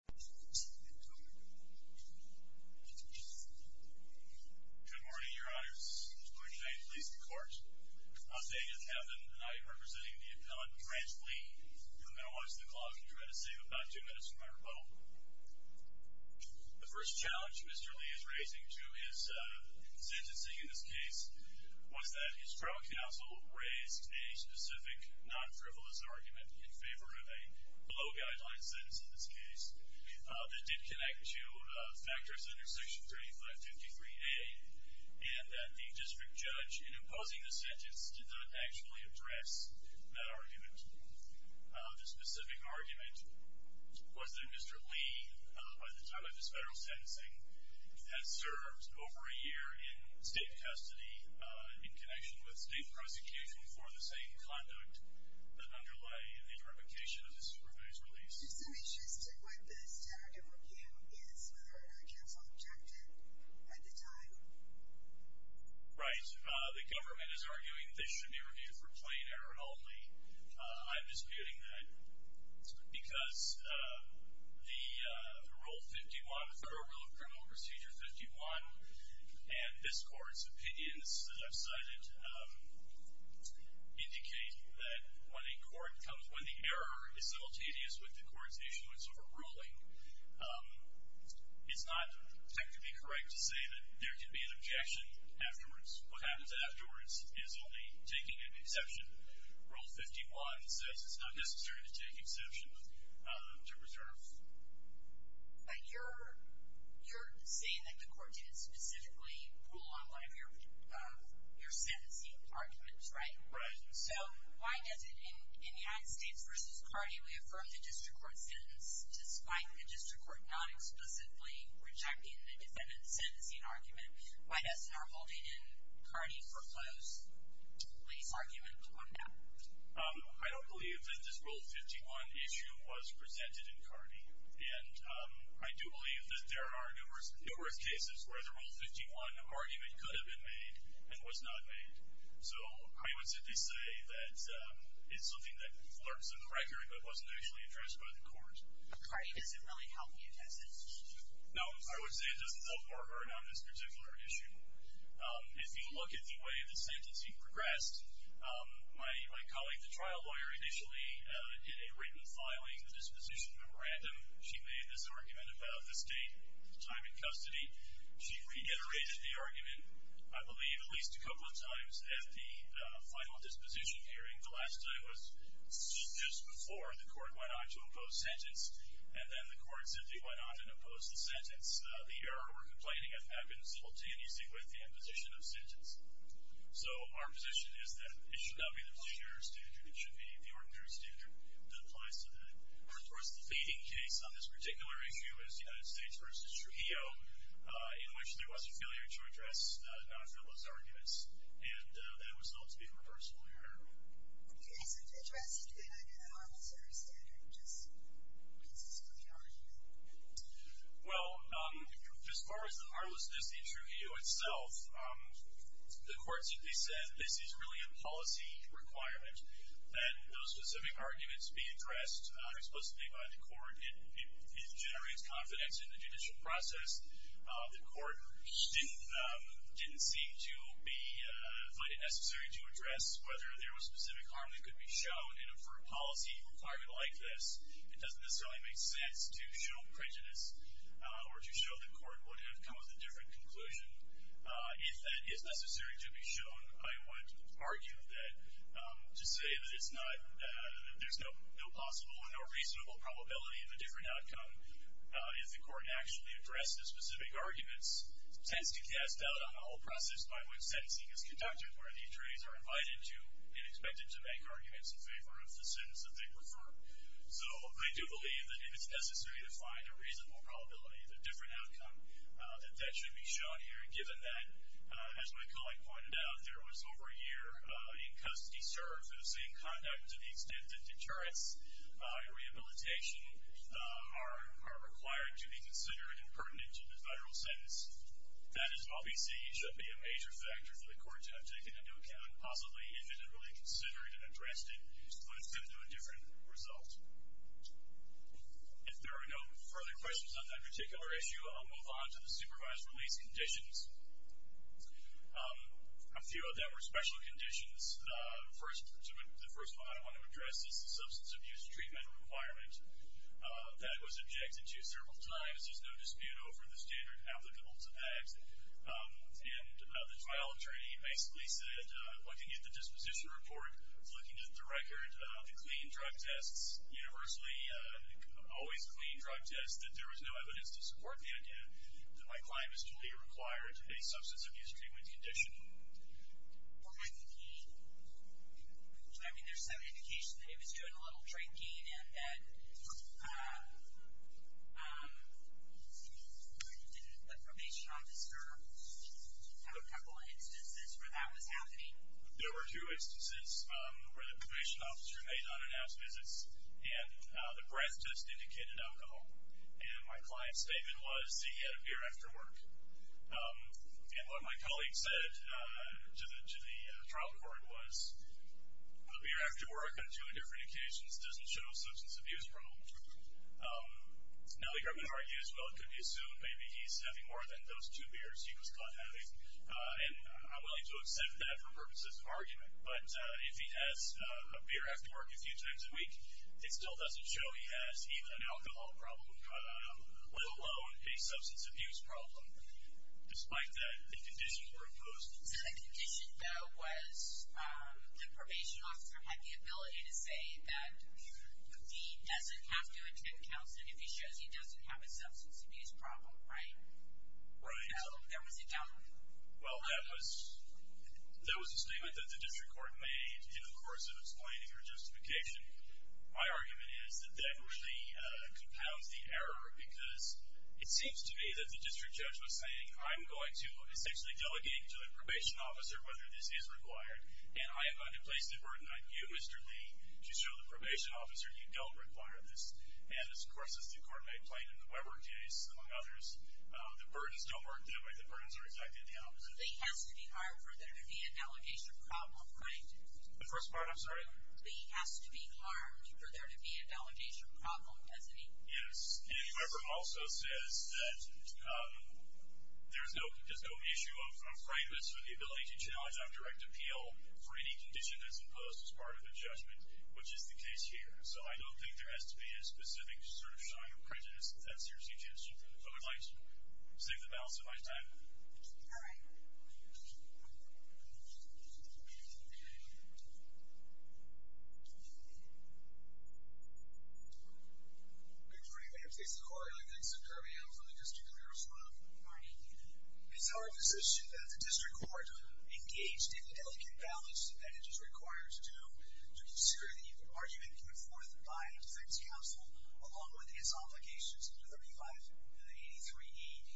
Good morning, your honors. Would you kindly please record. I'm David Kevin, and I am representing the appellant, Brent Lee. You're going to watch the clock, and you're going to save about two minutes from my rebuttal. The first challenge Mr. Lee is raising to his sentencing in this case was that his trial counsel raised a specific, non-frivolous argument in favor of a low-guideline sentence in this case that did connect to factors under Section 3553A and that the district judge, in imposing the sentence, did not actually address that argument. The specific argument was that Mr. Lee, by the time of his federal sentencing, has served over a year in state custody in connection with state prosecution for the same conduct that underlay the provocation of the Supreme Court's release. Is there some interest in what the standard of review is, whether or not counsel objected at the time? Right. The government is arguing they should be reviewed for plain error only. I'm disputing that because the Rule 51, the Federal Rule of Criminal Procedure 51, and this court's website indicate that when the error is simultaneous with the court's issuance of a ruling it's not technically correct to say that there can be an objection afterwards. What happens afterwards is only taking an exception. Rule 51 says it's not necessary to take exception to reserve. But you're saying that the court did specifically rule on one of your sentencing arguments, right? Right. So why does it, in United States v. Cardi, we affirm the district court's sentence despite the district court not explicitly rejecting the defendant's sentencing argument, why doesn't our holding in Cardi foreclose Lee's argument on that? I don't believe that this Rule 51 issue was presented in Cardi, and I do believe that there are arguments that the Rule 51 argument could have been made and was not made. So I would simply say that it's something that lurks in the record but wasn't actually addressed by the court. Cardi doesn't really help you, does it? No, I would say it doesn't help or hurt on this particular issue. If you look at the way the sentencing progressed, my colleague, the trial lawyer, initially did a written filing disposition memorandum. She made this argument about the state time in custody. She reiterated the argument, I believe, at least a couple of times at the final disposition hearing. The last time was just before the court went on to oppose sentence, and then the court simply went on and opposed the sentence. The error we're complaining of happens simultaneously with the imposition of sentence. So our position is that it should not be the procedure or statute. It should be the ordinary statute that applies to that. Of course, the fading case on this particular issue is the United States v. Trujillo, in which there was a failure to address Dr. Lo's arguments, and that was thought to be a reversal error. Okay, so did you ask him to deny that harmless error standard just because this was an argument? Well, as far as the harmlessness in Trujillo itself, the court simply said this is really a policy requirement that those specific arguments be addressed explicitly by the court. It generates confidence in the judicial process. The court didn't seem to find it necessary to address whether there was specific harm that could be shown in a policy requirement like this. It doesn't necessarily make sense to show prejudice or to show the court would have come with a different conclusion. If that is necessary to be shown, I would argue that to say that it's not that there's no possible and no reasonable probability of a different outcome if the court actually addressed the specific arguments tends to cast doubt on the whole process by which sentencing is conducted, where the attorneys are invited to and expected to make arguments in favor of the sentence that they prefer. So I do believe that if it's necessary to find a reasonable probability of a different outcome, that that should be shown here, given that as my colleague pointed out, there was over a year in custody served in the same conduct to the extent that deterrence and rehabilitation are required to be considered impertinent in a federal sentence. That is obviously should be a major factor for the court to have taken into account, possibly if it had really considered and addressed it, but it's been to a different result. If there are no further questions on that particular issue, I'll move on to the supervised release conditions. A few of them are special conditions. The first one I want to address is the substance abuse treatment requirement that was objected to several times. There's no dispute over the standard applicable to that. The trial attorney basically said, looking at the disposition report, looking at the record, the clean drug tests, universally always clean drug tests, that there was no evidence to support the idea that my client was to be required to pay substance abuse treatment condition. Well, I think he, I mean there's some indication that he was doing a little drinking and that did the probation officer have a couple instances where that was happening? There were two instances where the probation officer made unannounced visits and the breath test indicated alcohol. And my client's statement was that he had a beer after work. And what my colleague said to the trial court was, a beer after work on two different occasions doesn't show a substance abuse problem. Now the government argues well it could be assumed maybe he's having more than those two beers he was caught having. And I'm willing to accept that for purposes of argument, but if he has a beer after work a few times a week, it still doesn't show he has even an alcohol problem, let alone a substance abuse problem. Despite that, the conditions were imposed. So the condition though was the probation officer had the ability to say that he doesn't have to attend counseling if he shows he doesn't have a substance abuse problem, right? Right. So there was a doubt. Well that was a statement that the district court made in the course of explaining her justification. My argument is that that really compounds the error because it seems to me that the district judge was saying I'm going to essentially delegate to the probation officer whether this is required. And I am going to place the burden on you Mr. Lee to show the probation officer you don't require this. And of course as the court made plain in the Weber case among others, the burdens don't work that way. The burdens are exactly the opposite. Lee has to be hired for there to be an allegation problem, right? The first part, I'm sorry? Lee has to be harmed for there to be an allegation problem, doesn't he? Yes. And Weber also says that there's no issue of fragrance or the ability to challenge on direct appeal for any condition that's imposed as part of the judgment, which is the case here. So I don't think there has to be a specific sort of showing of prejudice that's your suggestion. Save the balance of my time. Alright. Thank you. Good morning ma'am. Jason Corrigan. I think some trivia from the district committee as well. Good morning. It's our position that the district court engaged in the delegate balance that it is required to to consider the argument put forth by defense counsel along with its obligations under 35 and the 83 AED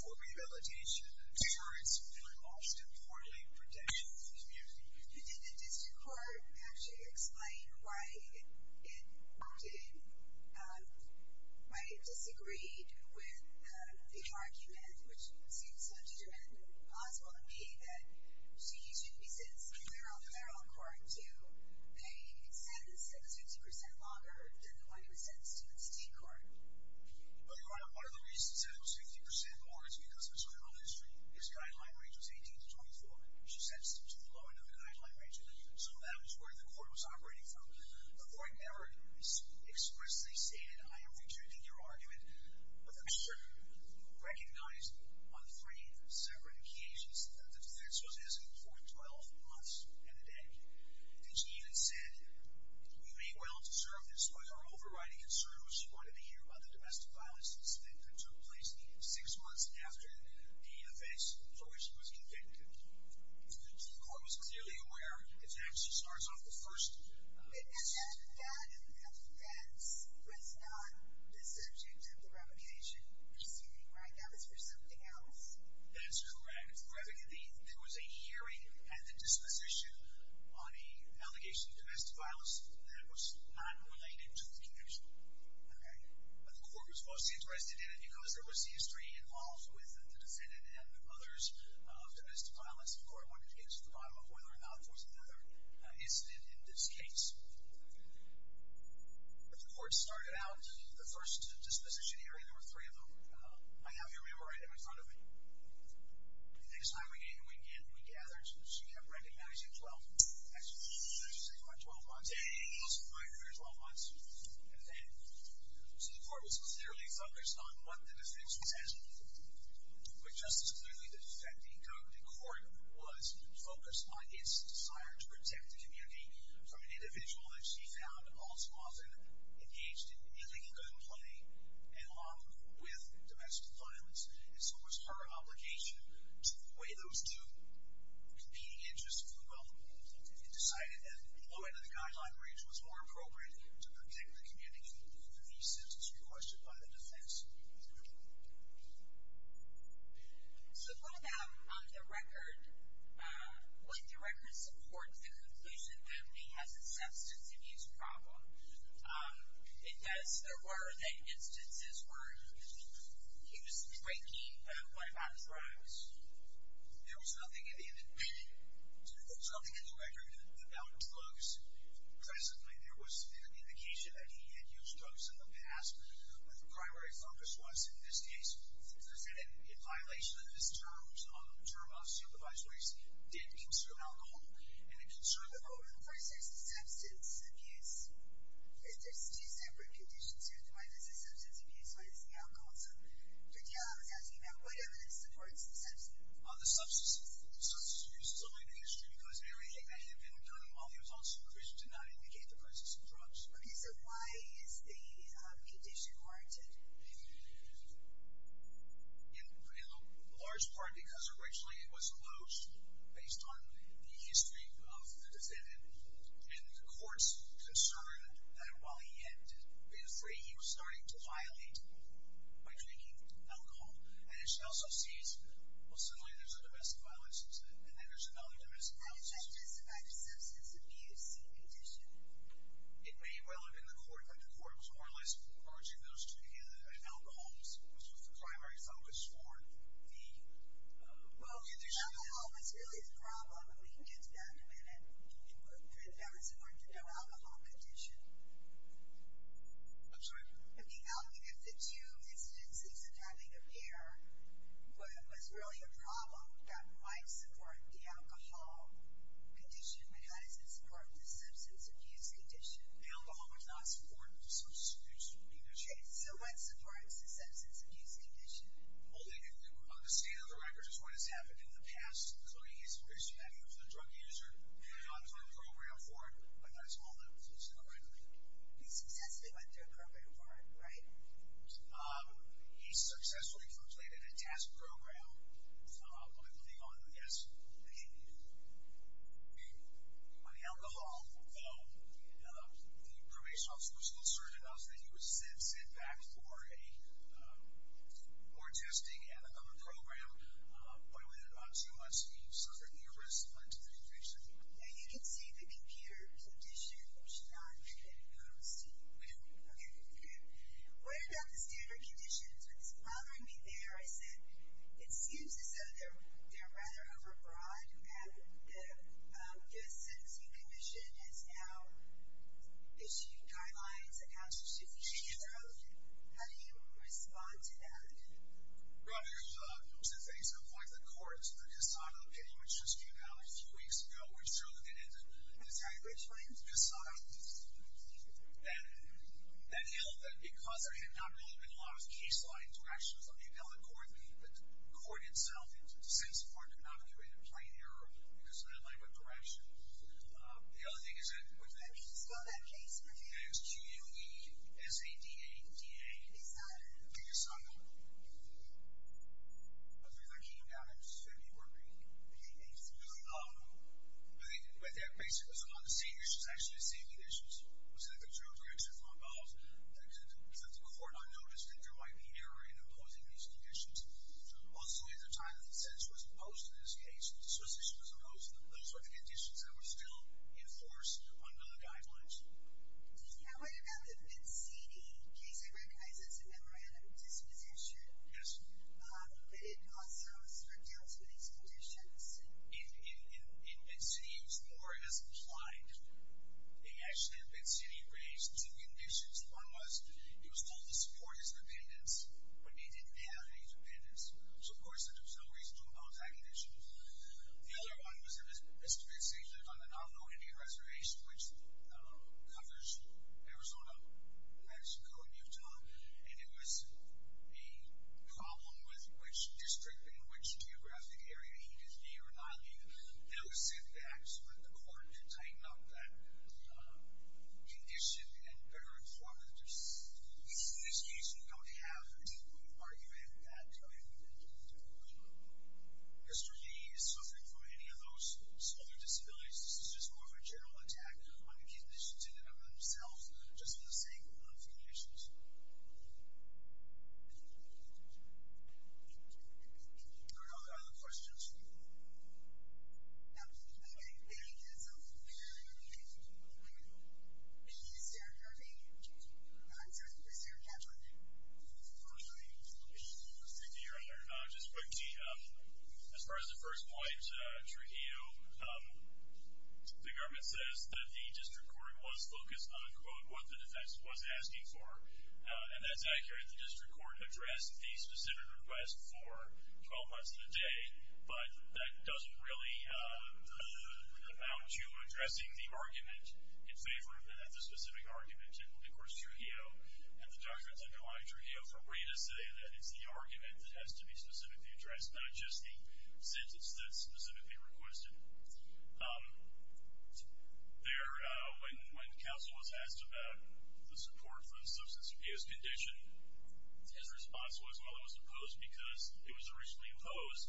for revalidation and insurance for lost and poorly protected community. Did the district court actually explain why it worked, why it disagreed with the argument which seems so determined and possible to me that she should be sent to the federal court to pay a sentence that is 50% longer than the one who was sentenced to the city court. Well your honor, one of the reasons it was 50% more is because of its criminal history. Its guideline range was 18 to 24. She sent someone to the lower end of the guideline range and so that was where the court was operating from. The court never expressly stated I am rejecting your argument but the district recognized on three separate occasions that the defense was in for 12 months and a day. And she even said we may well deserve this but her overriding concern was she wanted to hear about the domestic violence incident that took place six months after the defense for which she was convicted. The court was clearly aware as to how she starts off the first instance. And that defense was not the subject of the revocation proceeding right? That was for something else? That's correct. There was a hearing at the disposition on an allegation of domestic violence that was not related to the conviction. But the court was mostly interested in it because there was history involved with the defendant and others of domestic violence and the court wanted to get to the bottom of whether or not it was another incident in this case. The court started out the first disposition hearing there were three of them. I have your memory right in front of me. The next time we gathered she kept recognizing 12 months 12 months. So the court was clearly focused on what the defense was asking but just as clearly the defendant in court was focused on its desire to protect the community from an individual that she found all too often engaged in illegal gunplay and along with domestic violence. And so it was her obligation to weigh those two competing interests equally well and decided that the limit of the guideline range was more appropriate to protect the community from the substance requested by the defense. So put that on the record. Would the record support the conclusion that he has a substance abuse problem? It does. There were instances where he was drinking but what about his drugs? There was nothing in the record about drugs. Presently there was an indication that he had used drugs in the past but the primary focus was in this case was that in violation of his terms on the term of supervisory did concern alcohol. First there's the substance abuse. There's two separate conditions here. The one is the substance abuse and the one is the alcohol. What evidence supports the substance abuse? The substance abuse is still in the history because Mary had been doing it while he was on supervision did not indicate the presence of drugs. So why is the condition warranted? In large part because originally it was alloged based on the history of the defendant and the court's concern that while he had been free he was starting to violate by drinking alcohol and she also sees well suddenly there's a domestic violence incident and then there's another domestic violence incident. How does that justify the substance abuse condition? It may well have been the court but the court was more or less urging those to be in alcohols which was the primary focus for the condition. Well alcohol was really the problem and we can get to that in a minute. Can you put the evidence in order for the alcohol condition? I'm sorry? If the two incidences of having a beer was really a problem that might support the alcohol condition but how does it support the substance abuse condition? The alcohol would not support the substance abuse condition. So what supports the substance abuse condition? Well on the state of the record is what has happened in the past including his respect for the drug user and the ongoing program for it He successfully went through a program for it, right? He successfully completed a test program by putting on, yes, on alcohol though the probation office was concerned about that he would sit back for a more testing and another program but within about two months he suffered knee risk due to the infection. Now you can see the computer condition should not make any notes to you. We don't. Okay. What about the standard conditions? What's bothering me there is that it seems as though they're rather over broad and the Guest Sentencing Commission has now issued guidelines about how to suit these standards. How do you respond to that? Well there's things like the courts. This time of the penny which just came out a few weeks ago we're sure that they didn't decide that held that because there had not really been a lot of case law interactions on the appellate court, the court itself since the court did not do it in plain error, it was not in line with direction. The other thing is that, what's that? Can you spell that case for me? It's Q-U-E-S-A-D-A-D-A. Is that? Yes, I know. But things are heating up and it's going to be working. Okay, thanks. With that, basically it was among the same issues, actually the same issues, was that the jurors were interfering because the court had not noticed that there might be an error in imposing these conditions. Also at the time that the sentence was imposed in this case, the disposition was imposed, those were the conditions that were still enforced under the guidelines. Did you know what about the MNCD case? I recognize it's a memorandum of disposition. Yes. But it also was stripped down to these conditions. In Bed City, it was more as implied. Actually, in Bed City, it raised two conditions. One was, it was told to support his dependence, but he didn't have any dependence. So of course, there was no reason to impose that condition. The other one was that Mr. Bed City lived on the Navajo Indian Reservation, which covers Arizona, Mexico, and Utah. And it was a problem with which district and which geographic area he could be or not be. They would sit back so that the court could tighten up that condition and better inform the decision. In this case, we don't have any point of argument that he would have been dependent. Mr. Lee is suffering from any of those other disabilities. This is just more of a general attack on the conditions in and of themselves, just in the same conditions. Do we have any other questions? No. Is there any answer? Is there an answer? Just quickly, as far as the first point, Trujillo, the government says that the district court was focused on quote, what the defense was asking for. And that's accurate. The district court addressed the specific request for 12 months to the day. But that doesn't really amount to addressing the argument in favor of the specific argument. And of course, Trujillo, and the documents underlying Trujillo, are free to say that it's the argument that has to be specifically addressed, not just the sentence that's specifically requested. When counsel was asked about the support for the substance abuse condition, his response was, well, it was opposed because it was originally imposed.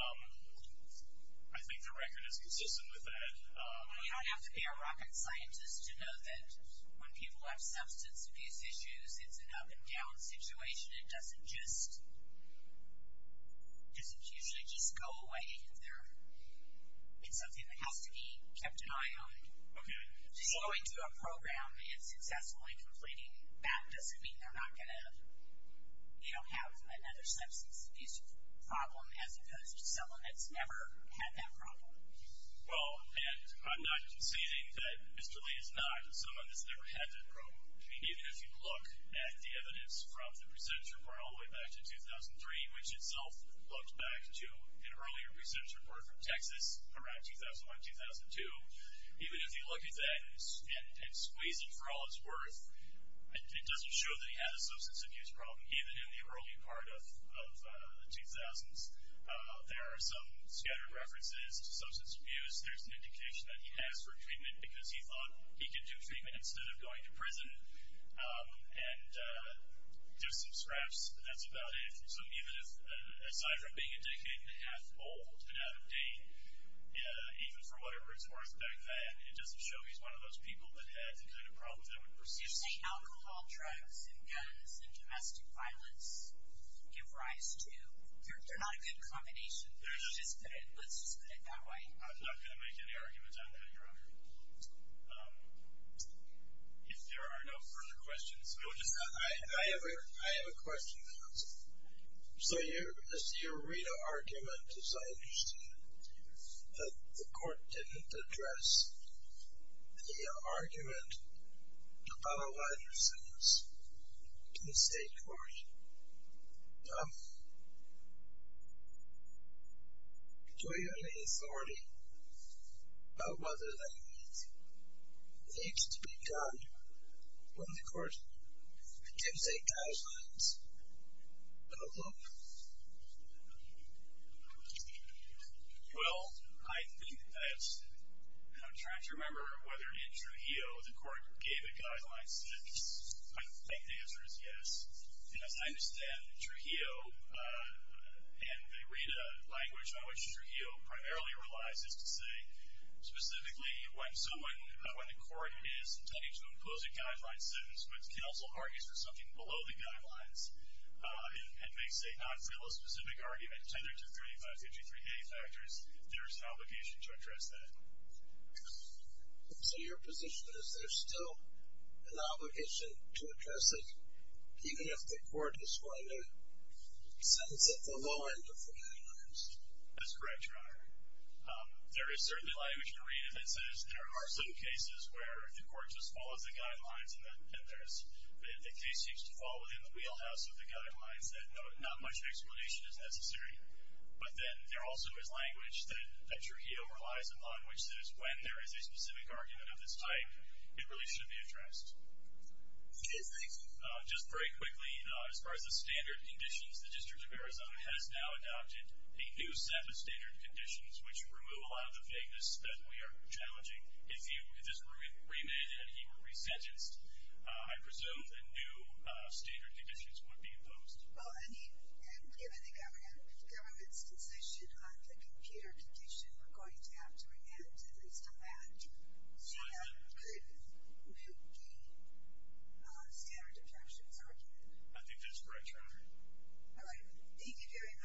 I think the record is consistent with that. We don't have to be a rocket scientist to know that when people have substance abuse issues, it's an up and down situation. It doesn't usually just go away. It's something that has to be kept in mind. Just going to a program and successfully completing that doesn't mean they're not going to have another substance abuse problem, as opposed to someone that's never had that problem. Well, and I'm not conceding that Mr. Lee is not someone that's never had that problem. Even if you look at the evidence from the presumption brought all the way back to 2003, which itself looks back to an earlier recidivist report from Texas around 2001-2002, even if you look at that and squeeze it for all it's worth, it doesn't show that he had a substance abuse problem even in the early part of the 2000s. There are some scattered references to substance abuse. There's an indication that he asked for treatment because he thought he could do treatment instead of going to prison. And just some scraps, that's about it. So even if, aside from being a decade and a half old and out of date even for whatever it's worth back then, it doesn't show he's one of those people that had the kind of problems that would persist. Do you say alcohol, drugs, guns, and domestic violence give rise to? They're not a good combination. Let's just put it that way. I'm not going to make any arguments. I'm going to go around here. If there are no further questions. I have a question. So as you read an argument, as I understand it, that the court didn't address the argument about a lot of things to the state court. Do you have any authority about whether that needs to be done when the court intends a guideline for the public? Well, I think that I'm trying to remember whether in Trujillo the court gave a guideline since I think the answer is yes. And as I understand, Trujillo, and they read a language on which Trujillo primarily relies is to say specifically when someone, when the court is intending to impose a guideline sentence but can also argue for something below the guidelines and makes a non-Trujillo specific argument tendered to 3553A factors there's an obligation to address that. So your position is there's still an obligation to address it even if the court is going to sentence it below and before guidelines? That's correct, Your Honor. There is certainly language to read that says there are some cases where the court just follows the guidelines and the case seems to fall within the wheelhouse of the guidelines that not much explanation is necessary. But then there also is language that Trujillo relies upon which says when there is a specific argument of this type, it really should be addressed. Just very quickly, as far as the standard conditions, the District of Arizona has now adopted a new set of standard conditions which remove a lot of the vagueness that we are challenging. If this were remanded and he were resentenced I presume a new standard conditions would be imposed. Well, I mean, given the government's decision on the computer condition we're going to have to remand at least on that so that could meet the standard objections argument. I think that's correct, Your Honor. Thank you very much.